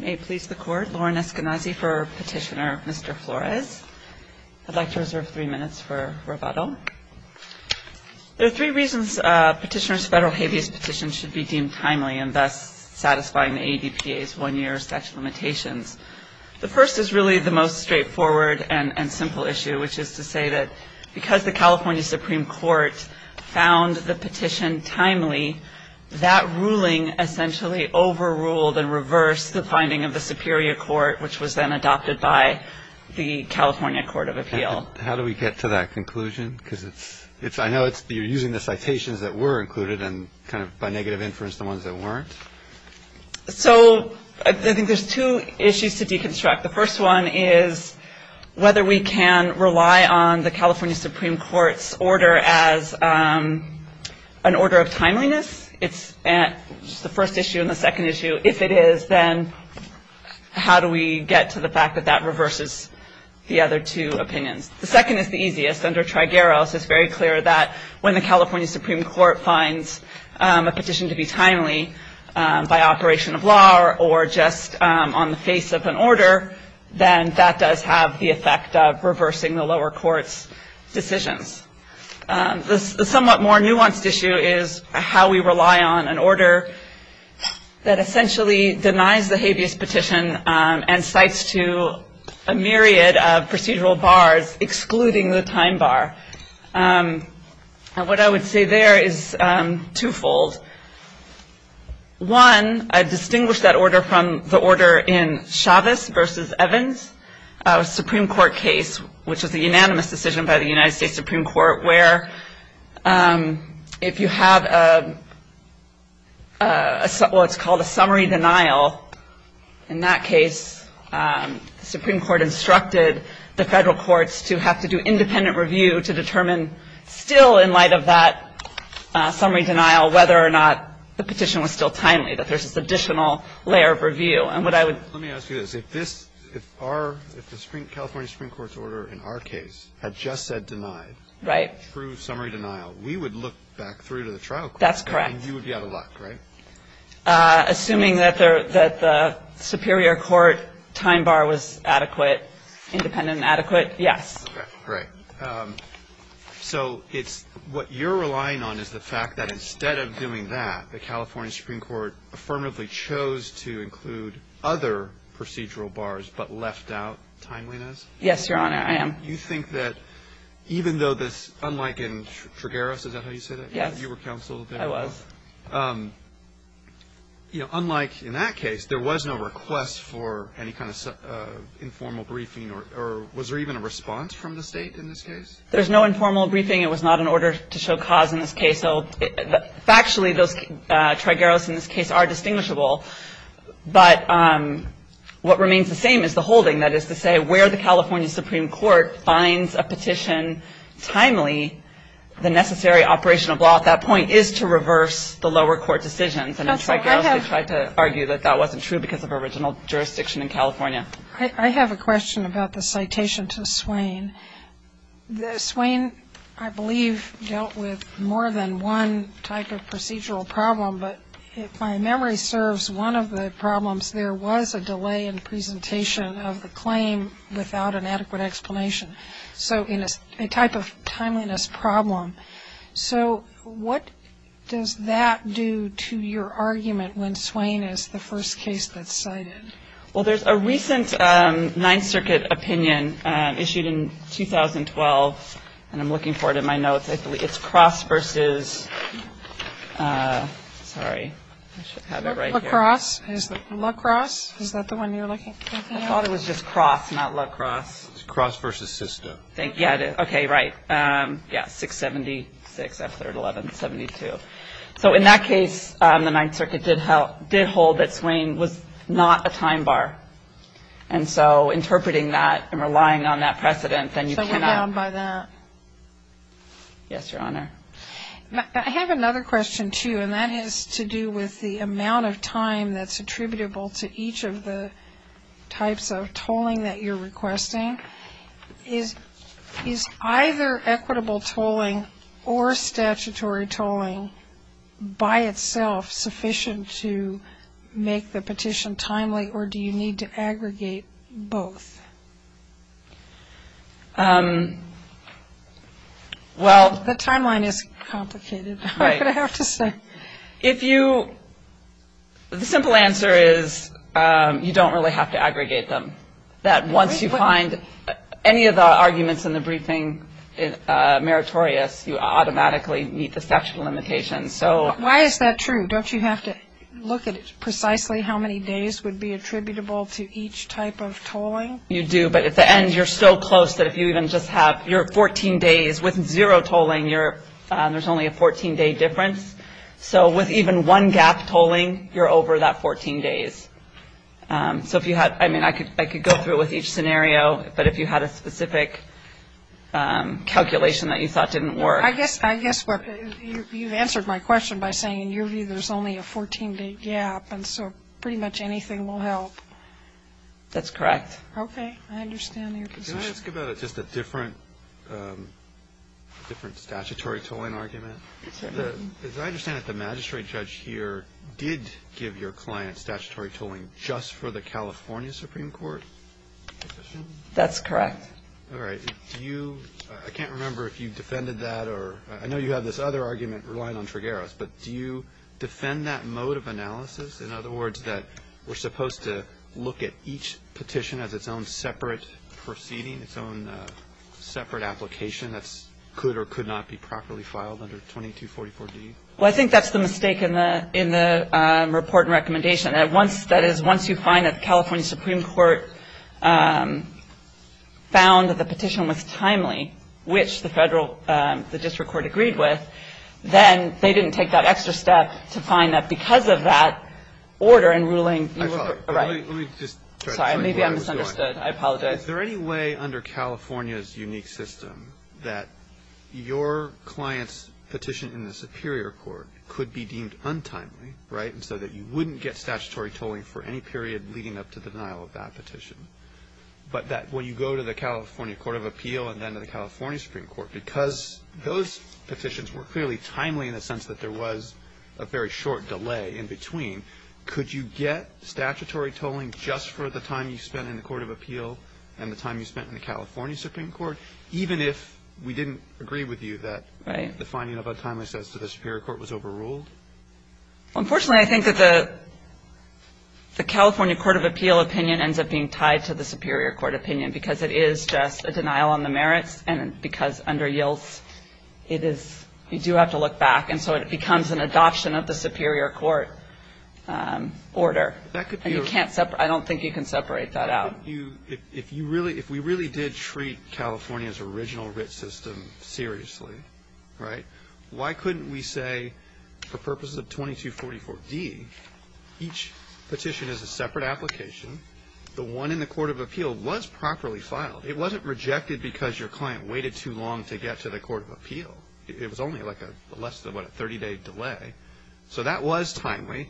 May it please the Court, Lauren Eskenazi for Petitioner, Mr. Flores. I'd like to reserve three minutes for rebuttal. There are three reasons Petitioner's Federal Habeas Petition should be deemed timely and thus satisfying the ADPA's one-year statute of limitations. The first is really the most straightforward and simple issue, which is to say that because the California Supreme Court found the petition timely, that ruling essentially overruled and reversed the finding of the Superior Court, which was then adopted by the California Court of Appeal. How do we get to that conclusion? I know you're using the citations that were included and kind of by negative inference the ones that weren't. So I think there's two issues to deconstruct. The first one is whether we can rely on the California Supreme Court's order as an order of timeliness. It's the first issue and the second issue. If it is, then how do we get to the fact that that reverses the other two opinions? The second is the easiest. Under Trigueros, it's very clear that when the California Supreme Court finds a petition to be timely by operation of law or just on the face of an order, then that does have the effect of reversing the lower court's decisions. The somewhat more nuanced issue is how we rely on an order that essentially denies the habeas petition and cites to a myriad of procedural bars, excluding the time bar. And what I would say there is twofold. One, I distinguish that order from the order in Chavez v. Evans, a Supreme Court case, which was a unanimous decision by the United States Supreme Court, where if you have what's called a summary denial, in that case, the Supreme Court instructed the Federal courts to have to do independent review to determine still in light of that summary denial whether or not the petition was still timely, that there's this additional layer of review. And what I would ---- Let me ask you this. If this, if our, if the California Supreme Court's order in our case had just said denied true summary denial, we would look back through to the trial court. That's correct. And you would be out of luck, right? Assuming that the Superior Court time bar was adequate, independent and adequate, yes. Okay. Great. So it's, what you're relying on is the fact that instead of doing that, the California Supreme Court affirmatively chose to include other procedural bars but left out timeliness? Yes, Your Honor, I am. You think that even though this, unlike in Trigueros, is that how you say that? You were counsel there? I was. You know, unlike in that case, there was no request for any kind of informal briefing or was there even a response from the State in this case? There's no informal briefing. It was not an order to show cause in this case. So factually, those Trigueros in this case are distinguishable. But what remains the same is the holding, that is to say, where the California Supreme Court finds a petition timely, the necessary operational law at that point is to reverse the lower court decisions. And in Trigueros, they tried to argue that that wasn't true because of original jurisdiction in California. I have a question about the citation to Swain. Swain, I believe, dealt with more than one type of procedural problem, but if my memory serves, one of the problems there was a delay in presentation of the claim without an adequate explanation. So in a type of timeliness problem. So what does that do to your argument when Swain is the first case that's cited? Well, there's a recent Ninth Circuit opinion issued in 2012, and I'm looking for it in my notes. I believe it's Cross versus, sorry, I should have it right here. Lacrosse? Is it Lacrosse? Is that the one you're looking for? I thought it was just Cross, not Lacrosse. It's Cross versus Sisto. Yeah, okay, right. Yeah, 676, F3rd 1172. So in that case, the Ninth Circuit did hold that Swain was not a time bar. And so interpreting that and relying on that precedent, then you cannot. So we're bound by that? Yes, Your Honor. I have another question, too, and that has to do with the amount of time that's attributable to each of the types of tolling that you're requesting. Is either equitable tolling or statutory tolling by itself sufficient to make the petition timely, or do you need to aggregate both? The timeline is complicated, I'm going to have to say. The simple answer is you don't really have to aggregate them. Once you find any of the arguments in the briefing meritorious, you automatically meet the statute of limitations. Why is that true? Don't you have to look at precisely how many days would be attributable to each type of tolling? You do, but at the end, you're so close that if you even just have your 14 days with zero tolling, there's only a 14-day difference. So with even one gap tolling, you're over that 14 days. So if you had, I mean, I could go through it with each scenario, but if you had a specific calculation that you thought didn't work. I guess you've answered my question by saying in your view there's only a 14-day gap, and so pretty much anything will help. That's correct. Okay. I understand your position. Can I ask about just a different statutory tolling argument? Certainly. As I understand it, the magistrate judge here did give your client statutory tolling just for the California Supreme Court petition? That's correct. All right. I can't remember if you defended that, or I know you have this other argument relying on Tregueros, but do you defend that mode of analysis? In other words, that we're supposed to look at each petition as its own separate proceeding, its own separate application that could or could not be properly filed under 2244D? Well, I think that's the mistake in the report and recommendation. That is, once you find that the California Supreme Court found that the petition was timely, which the district court agreed with, then they didn't take that extra step to find that because of that order and ruling you were right. Let me just try to find where I was going. Sorry, maybe I misunderstood. I apologize. Is there any way under California's unique system that your client's petition in the Superior Court could be deemed untimely, right, and so that you wouldn't get statutory tolling for any period leading up to the denial of that petition, but that when you go to the California court of appeal and then to the California Supreme Court, because those petitions were clearly timely in the sense that there was a very short delay in between, could you get statutory tolling just for the time you spent in the court of appeal and the time you spent in the California Supreme Court, even if we didn't agree with you that the finding of untimely in the Superior Court was overruled? Unfortunately, I think that the California court of appeal opinion ends up being tied to the Superior Court opinion because it is just a denial on the merits and because under YILS, you do have to look back. And so it becomes an adoption of the Superior Court order. I don't think you can separate that out. If we really did treat California's original writ system seriously, right, why couldn't we say for purposes of 2244D, each petition is a separate application. The one in the court of appeal was properly filed. It wasn't rejected because your client waited too long to get to the court of appeal. It was only like a less than, what, a 30-day delay. So that was timely.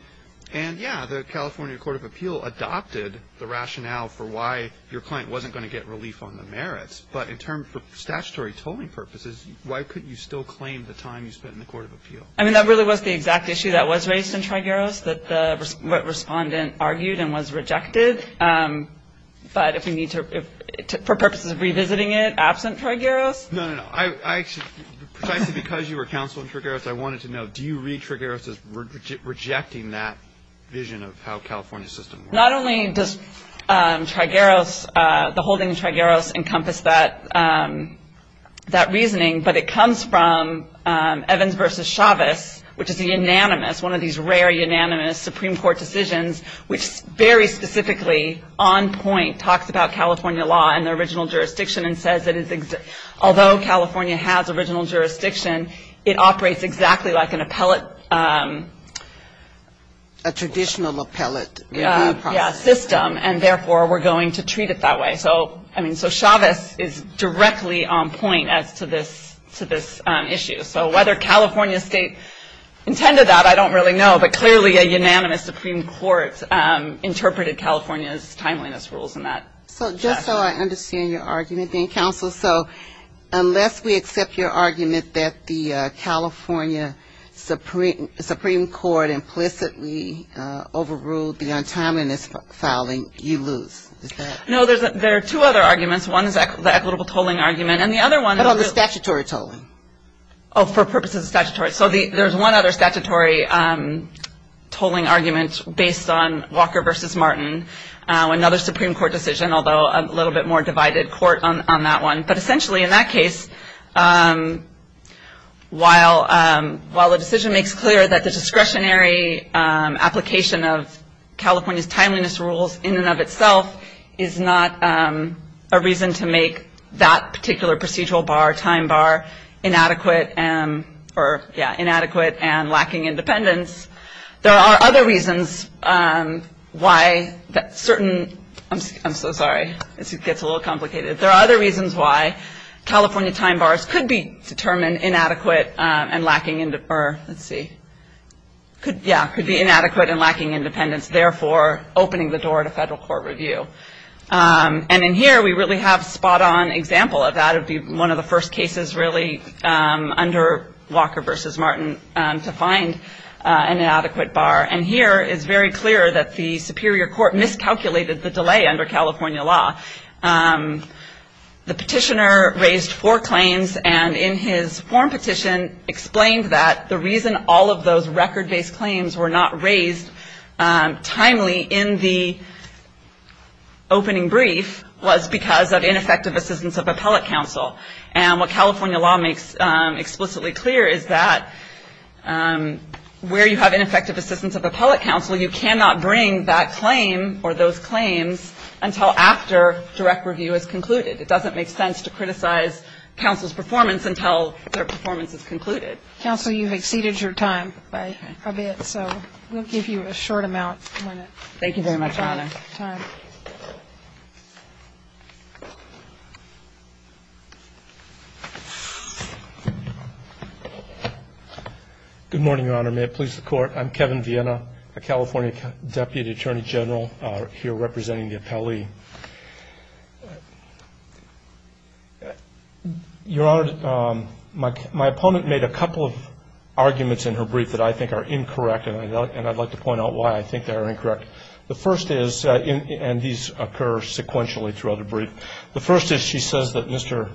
And, yeah, the California court of appeal adopted the rationale for why your client wasn't going to get relief on the merits. But in terms of statutory tolling purposes, why couldn't you still claim the time you spent in the court of appeal? I mean, that really was the exact issue that was raised in Trigueros, that the respondent argued and was rejected. But if we need to, for purposes of revisiting it, absent Trigueros? No, no, no. Precisely because you were counsel in Trigueros, I wanted to know, do you read Trigueros as rejecting that vision of how California's system works? Not only does Trigueros, the holding of Trigueros encompass that reasoning, but it comes from Evans v. Chavez, which is unanimous, one of these rare unanimous Supreme Court decisions, which very specifically on point talks about California law and the original jurisdiction and says that although California has original jurisdiction, it operates exactly like an appellate. A traditional appellate review process. Yeah, system. And therefore, we're going to treat it that way. So, I mean, so Chavez is directly on point as to this issue. So whether California state intended that, I don't really know. But clearly a unanimous Supreme Court interpreted California's timeliness rules in that. So just so I understand your argument then, counsel, so unless we accept your argument that the California Supreme Court implicitly overruled the untimeliness filing, you lose, is that it? No, there are two other arguments. One is the equitable tolling argument. And the other one is. What about the statutory tolling? Oh, for purposes of statutory. So there's one other statutory tolling argument based on Walker v. Martin, another Supreme Court decision, although a little bit more divided court on that one. But essentially in that case, while the decision makes clear that the discretionary application of California's timeliness rules in and of itself is not a reason to make that particular procedural bar, time bar, inadequate and lacking independence, there are other reasons why that certain. I'm so sorry. It gets a little complicated. There are other reasons why California time bars could be determined inadequate and lacking. Let's see. Yeah, could be inadequate and lacking independence, therefore opening the door to federal court review. And in here we really have a spot on example of that. It would be one of the first cases really under Walker v. Martin to find an adequate bar. And here is very clear that the superior court miscalculated the delay under California law. The petitioner raised four claims. And in his form petition explained that the reason all of those record based claims were not raised timely in the opening brief was because of ineffective assistance of appellate counsel. And what California law makes explicitly clear is that where you have ineffective assistance of appellate counsel, you cannot bring that claim or those claims until after direct review is concluded. It doesn't make sense to criticize counsel's performance until their performance is concluded. Counsel, you've exceeded your time by a bit, so we'll give you a short amount. Thank you very much, Your Honor. Good morning, Your Honor. May it please the Court. I'm Kevin Viena, a California Deputy Attorney General here representing the appellee. Your Honor, my opponent made a couple of arguments in her brief that I think are incorrect, and I'd like to point out why I think they are incorrect. The first is, and these occur sequentially throughout the brief, the first is she says that Mr.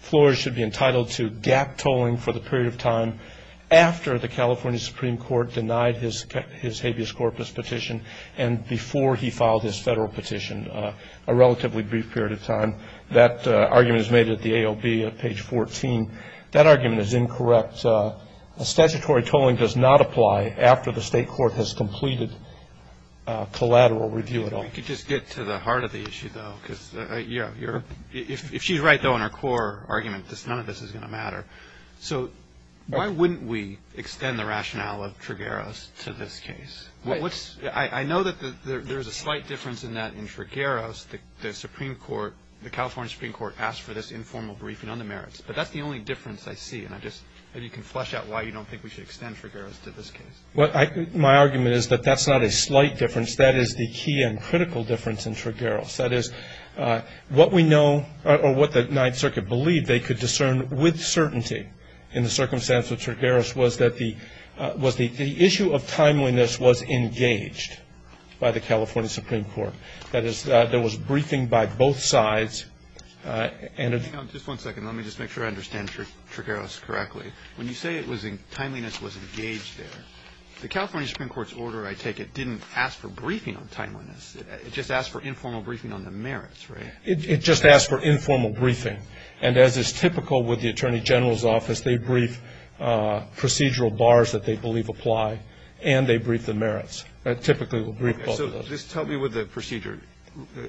Flores should be entitled to gap tolling for the period of time after the California Supreme Court denied his habeas corpus petition and before he filed his federal petition, a relatively brief period of time. That argument is made at the AOB at page 14. That argument is incorrect. Statutory tolling does not apply after the state court has completed collateral review at all. If we could just get to the heart of the issue, though, because, you know, if she's right, though, in her core argument, none of this is going to matter. So why wouldn't we extend the rationale of Trigueros to this case? I know that there's a slight difference in that in Trigueros, the Supreme Court, the California Supreme Court asked for this informal briefing on the merits, but that's the only difference I see, and maybe you can flesh out why you don't think we should extend Trigueros to this case. Well, my argument is that that's not a slight difference. That is the key and critical difference in Trigueros. That is, what we know or what the Ninth Circuit believed they could discern with certainty in the circumstance of Trigueros was that the issue of timeliness was engaged by the California Supreme Court. That is, there was briefing by both sides. Just one second. Let me just make sure I understand Trigueros correctly. When you say timeliness was engaged there, the California Supreme Court's order, I take it, didn't ask for briefing on timeliness. It just asked for informal briefing on the merits, right? It just asked for informal briefing. And as is typical with the Attorney General's office, they brief procedural bars that they believe apply, and they brief the merits. They typically will brief both of those. Okay. So just tell me what the procedure.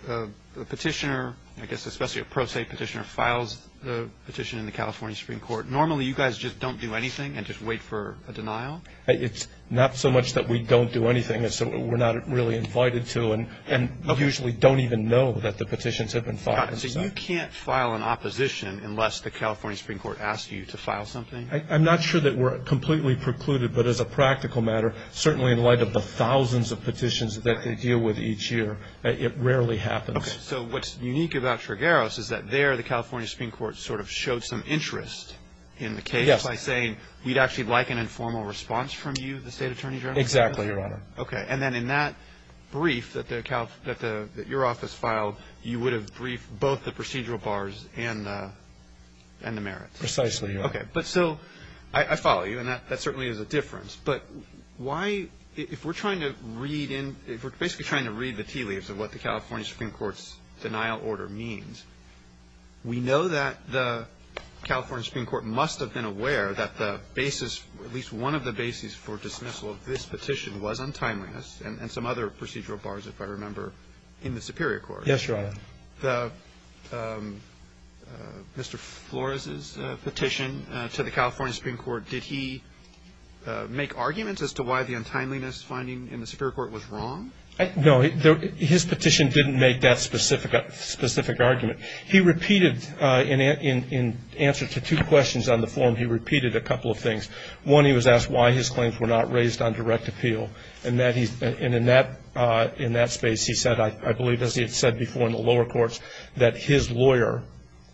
A petitioner, I guess especially a pro se petitioner, files a petition in the California Supreme Court. Normally, you guys just don't do anything and just wait for a denial? It's not so much that we don't do anything. We're not really invited to and usually don't even know that the petitions have been filed. So you can't file an opposition unless the California Supreme Court asks you to file something? I'm not sure that we're completely precluded, but as a practical matter, certainly in light of the thousands of petitions that they deal with each year, it rarely happens. Okay. So what's unique about Trigueros is that there, the California Supreme Court sort of showed some interest in the case by saying, we'd actually like an informal response from you, the State Attorney General? Exactly, Your Honor. Okay. And then in that brief that your office filed, you would have briefed both the procedural bars and the merits? Precisely, Your Honor. Okay. But still, I follow you, and that certainly is a difference. But why, if we're trying to read in, if we're basically trying to read the tea leaves of what the California Supreme Court's denial order means, we know that the California Supreme Court must have been aware that the basis, at least one of the basis for dismissal of this petition was untimeliness and some other procedural bars, if I remember, in the Superior Court. Yes, Your Honor. Mr. Flores's petition to the California Supreme Court, did he make arguments as to why the untimeliness finding in the Superior Court was wrong? No. His petition didn't make that specific argument. He repeated, in answer to two questions on the form, he repeated a couple of things. One, he was asked why his claims were not raised on direct appeal, and in that space, he said, I believe as he had said before in the lower courts, that his lawyer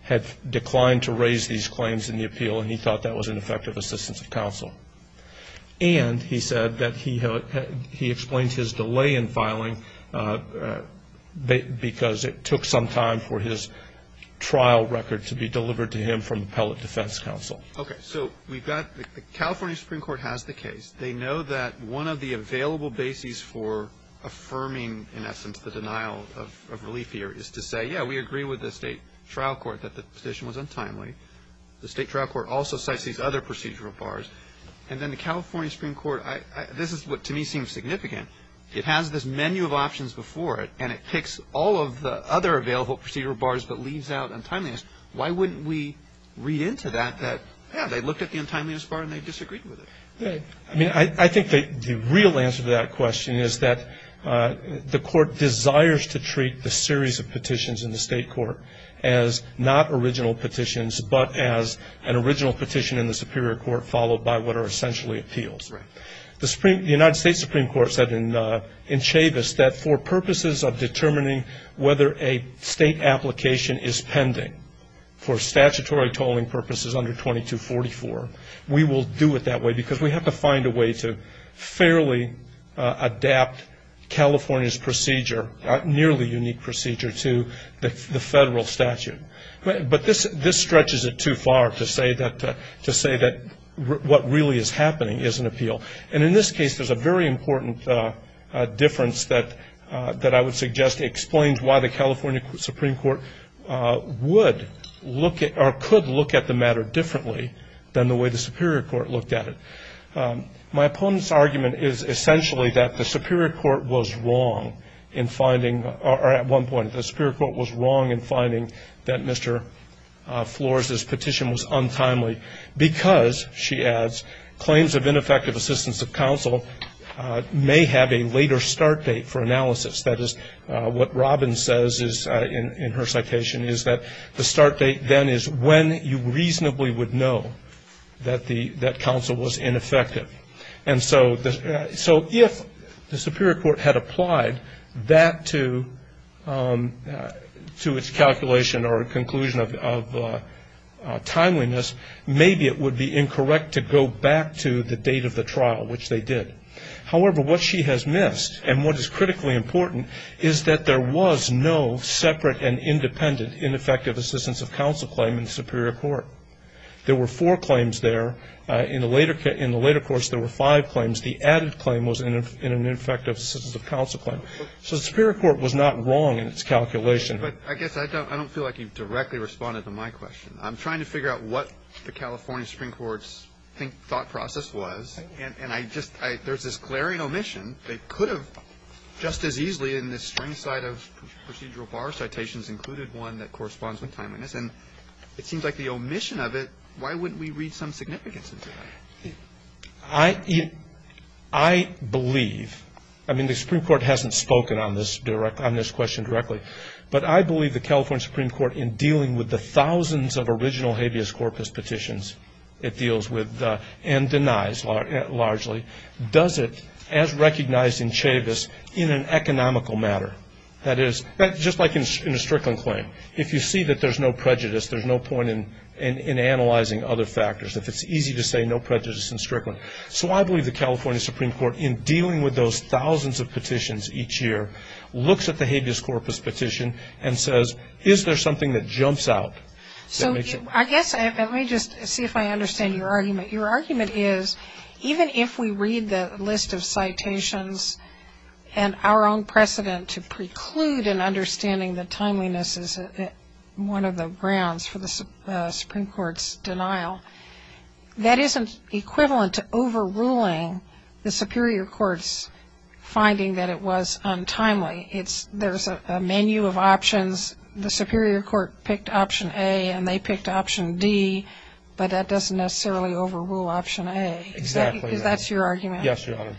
had declined to raise these claims in the appeal, and he thought that was ineffective assistance of counsel. And he said that he explained his delay in filing because it took some time for his trial record to be delivered to him from Appellate Defense Counsel. Okay. So we've got the California Supreme Court has the case. They know that one of the available bases for affirming, in essence, the denial of relief here is to say, yeah, we agree with the State Trial Court that the petition was untimely. The State Trial Court also cites these other procedural bars. And then the California Supreme Court, this is what to me seems significant. It has this menu of options before it, and it picks all of the other available procedural bars but leaves out untimeliness. Why wouldn't we read into that that, yeah, they looked at the untimeliness bar and they disagreed with it? I mean, I think the real answer to that question is that the Court desires to treat the series of petitions in the State Court as not original petitions but as an original petition in the Superior Court followed by what are essentially appeals. Right. The United States Supreme Court said in Chavis that for purposes of determining whether a State application is pending for statutory tolling purposes under 2244, we will do it that way because we have to find a way to fairly adapt California's procedure, nearly unique procedure, to the federal statute. But this stretches it too far to say that what really is happening is an appeal. And in this case, there's a very important difference that I would suggest explains why the California Supreme Court would look at or could look at the matter differently than the way the Superior Court looked at it. My opponent's argument is essentially that the Superior Court was wrong in finding or at one point the Superior Court was wrong in finding that Mr. Flores' petition was untimely because, she adds, claims of ineffective assistance of counsel may have a later start date for analysis. That is what Robin says in her citation is that the start date then is when you reasonably would know that counsel was ineffective. And so if the Superior Court had applied that to its calculation or conclusion of timeliness, maybe it would be incorrect to go back to the date of the trial, which they did. However, what she has missed and what is critically important is that there was no separate and independent ineffective assistance of counsel claim in the Superior Court. There were four claims there. In the later course, there were five claims. The added claim was in an ineffective assistance of counsel claim. So the Superior Court was not wrong in its calculation. But I guess I don't feel like you've directly responded to my question. I'm trying to figure out what the California Supreme Court's thought process was, and I just – there's this glaring omission. They could have just as easily in the string side of procedural bar citations included one that corresponds with timeliness. And it seems like the omission of it, why wouldn't we read some significance into that? I believe – I mean, the Supreme Court hasn't spoken on this question directly. But I believe the California Supreme Court, in dealing with the thousands of original habeas corpus petitions it deals with and denies largely, does it as recognized in Chavis in an economical matter. That is, just like in a Strickland claim. If you see that there's no prejudice, there's no point in analyzing other factors. If it's easy to say no prejudice in Strickland. So I believe the California Supreme Court, in dealing with those thousands of petitions each year, looks at the habeas corpus petition and says, is there something that jumps out? So I guess – let me just see if I understand your argument. Your argument is, even if we read the list of citations and our own precedent to preclude an understanding that timeliness is one of the grounds for the Supreme Court's denial, that isn't equivalent to overruling the Superior Court's finding that it was untimely. There's a menu of options. The Superior Court picked option A and they picked option D, but that doesn't necessarily overrule option A. Exactly. Because that's your argument. Yes, Your Honor.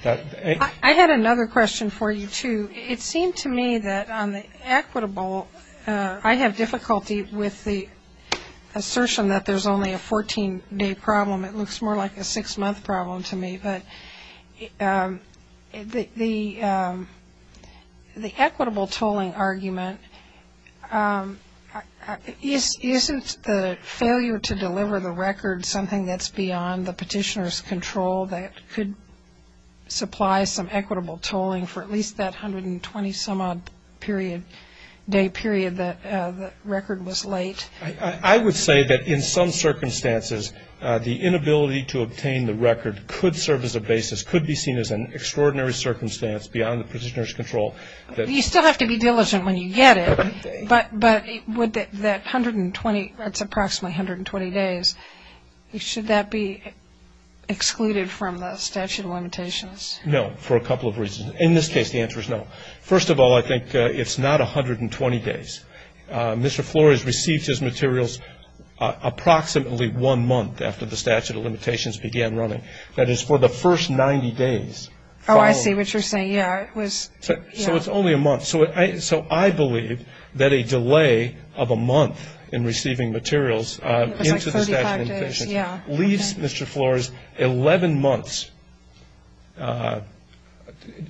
I had another question for you, too. It seemed to me that on the equitable, I have difficulty with the assertion that there's only a 14-day problem. It looks more like a six-month problem to me. But the equitable tolling argument, isn't the failure to deliver the record something that's beyond the petitioner's control that could supply some equitable tolling for at least that 120-some-odd-day period that the record was late? I would say that in some circumstances, the inability to obtain the record could serve as a basis, could be seen as an extraordinary circumstance beyond the petitioner's control. You still have to be diligent when you get it. But would that 120, that's approximately 120 days, should that be excluded from the statute of limitations? No, for a couple of reasons. In this case, the answer is no. First of all, I think it's not 120 days. Mr. Flores received his materials approximately one month after the statute of limitations began running. That is, for the first 90 days following. Oh, I see what you're saying. So it's only a month. So I believe that a delay of a month in receiving materials into the statute of limitations leaves Mr. Flores 11 months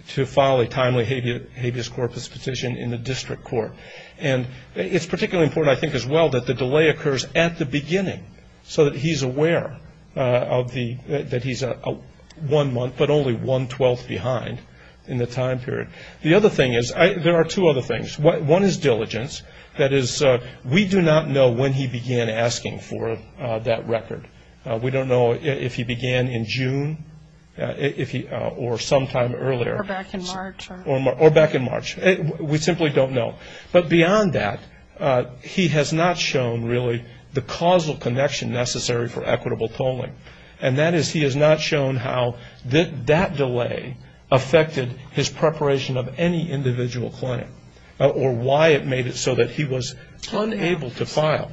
to file a timely habeas corpus petition in the district court. And it's particularly important, I think, as well, that the delay occurs at the beginning so that he's aware that he's one month, but only one-twelfth behind in the time period. The other thing is, there are two other things. One is diligence. That is, we do not know when he began asking for that record. We don't know if he began in June or sometime earlier. Or back in March. Or back in March. We simply don't know. But beyond that, he has not shown, really, the causal connection necessary for equitable tolling. And that is, he has not shown how that delay affected his preparation of any individual claim or why it made it so that he was unable to file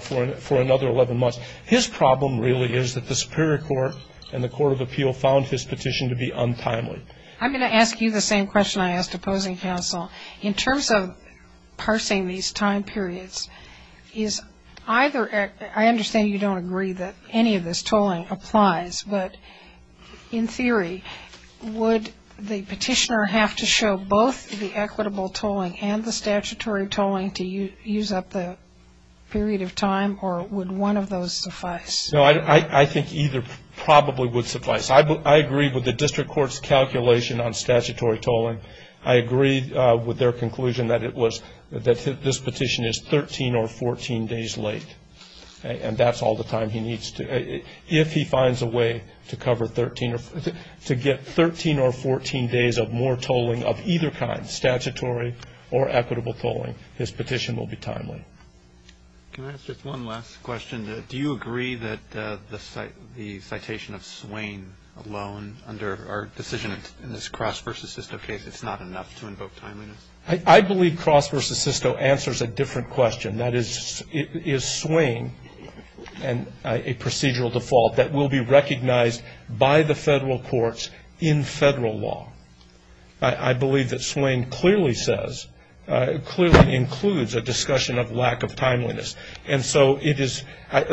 for another 11 months. His problem really is that the Superior Court and the Court of Appeal found his petition to be untimely. I'm going to ask you the same question I asked opposing counsel. In terms of parsing these time periods, I understand you don't agree that any of this tolling applies, but in theory, would the petitioner have to show both the equitable tolling and the statutory tolling to use up the period of time, or would one of those suffice? No, I think either probably would suffice. I agree with the district court's calculation on statutory tolling. I agree with their conclusion that this petition is 13 or 14 days late. And that's all the time he needs. If he finds a way to get 13 or 14 days of more tolling of either kind, statutory or equitable tolling, his petition will be timely. Can I ask just one last question? Do you agree that the citation of Swain alone under our decision in this Cross v. Sisto case, it's not enough to invoke timeliness? I believe Cross v. Sisto answers a different question. That is, is Swain a procedural default that will be recognized by the federal courts in federal law? I believe that Swain clearly says, clearly includes a discussion of lack of timeliness. And so it is,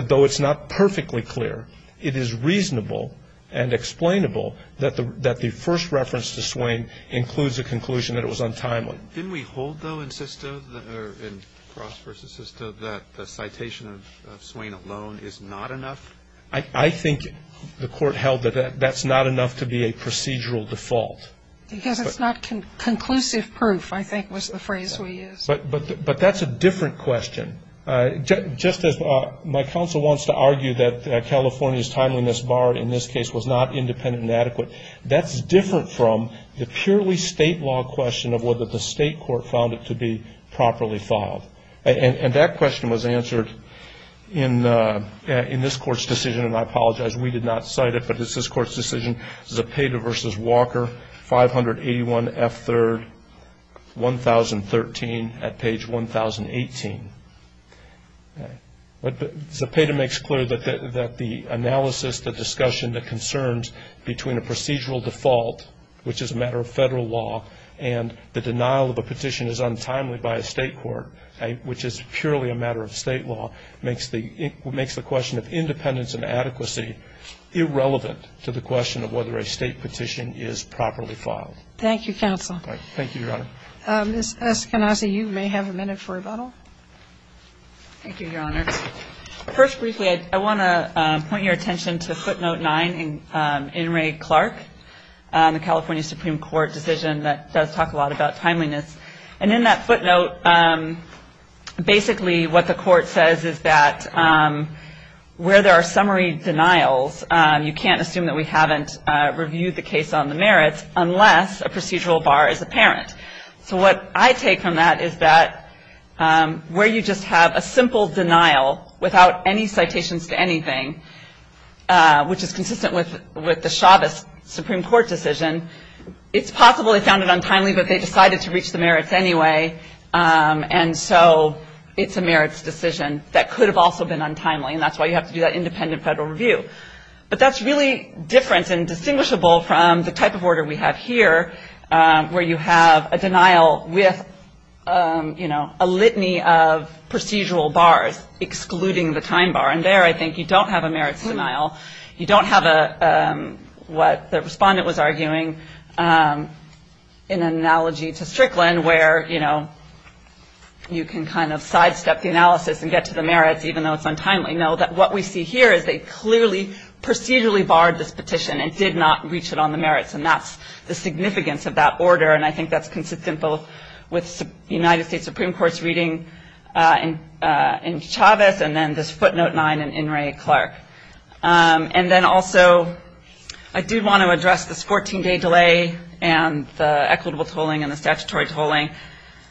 though it's not perfectly clear, it is reasonable and explainable that the first reference to Swain includes a conclusion that it was untimely. Didn't we hold, though, in Sisto, or in Cross v. Sisto, that the citation of Swain alone is not enough? I think the court held that that's not enough to be a procedural default. Because it's not conclusive proof, I think was the phrase we used. But that's a different question. Just as my counsel wants to argue that California's timeliness bar in this case was not independent and adequate, that's different from the purely state law question of whether the state court found it to be properly filed. And that question was answered in this court's decision, and I apologize, we did not cite it, but it's this court's decision, Zepeda v. Walker, 581 F. 3rd, 1013 at page 1018. Zepeda makes clear that the analysis, the discussion, the concerns between a procedural default, which is a matter of federal law, and the denial of a petition as untimely by a state court, which is purely a matter of state law, makes the question of independence and adequacy irrelevant to the question of whether a state petition is properly filed. Thank you, counsel. Thank you, Your Honor. Ms. Eskenazi, you may have a minute for rebuttal. Thank you, Your Honor. First, briefly, I want to point your attention to footnote 9 in Ray Clark, the California Supreme Court decision that does talk a lot about timeliness. And in that footnote, basically what the court says is that where there are summary denials, you can't assume that we haven't reviewed the case on the merits unless a procedural bar is apparent. So what I take from that is that where you just have a simple denial without any citations to anything, which is consistent with the Chavez Supreme Court decision, it's possible they found it untimely, but they decided to reach the merits anyway. And so it's a merits decision that could have also been untimely, and that's why you have to do that independent federal review. But that's really different and distinguishable from the type of order we have here, where you have a denial with, you know, a litany of procedural bars excluding the time bar. And there, I think, you don't have a merits denial. You don't have what the respondent was arguing in an analogy to Strickland, where, you know, you can kind of sidestep the analysis and get to the merits even though it's untimely. No, what we see here is they clearly procedurally barred this petition and did not reach it on the merits, and that's the significance of that order, and I think that's consistent both with the United States Supreme Court's reading in Chavez and then this footnote 9 in Inouye Clark. And then also I do want to address this 14-day delay and the equitable tolling and the statutory tolling.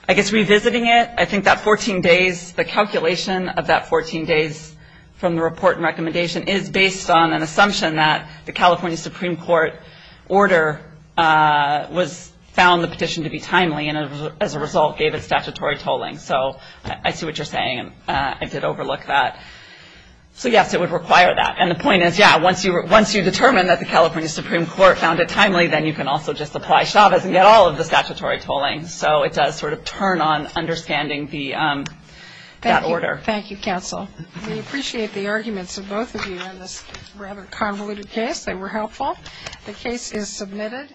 I guess revisiting it, I think that 14 days, the calculation of that 14 days from the report and recommendation is based on an assumption that the California Supreme Court order was found the petition to be timely and, as a result, gave it statutory tolling. So I see what you're saying, and I did overlook that. So, yes, it would require that. And the point is, yeah, once you determine that the California Supreme Court found it timely, then you can also just apply Chavez and get all of the statutory tolling. So it does sort of turn on understanding that order. Thank you, counsel. We appreciate the arguments of both of you in this rather convoluted case. They were helpful. The case is submitted.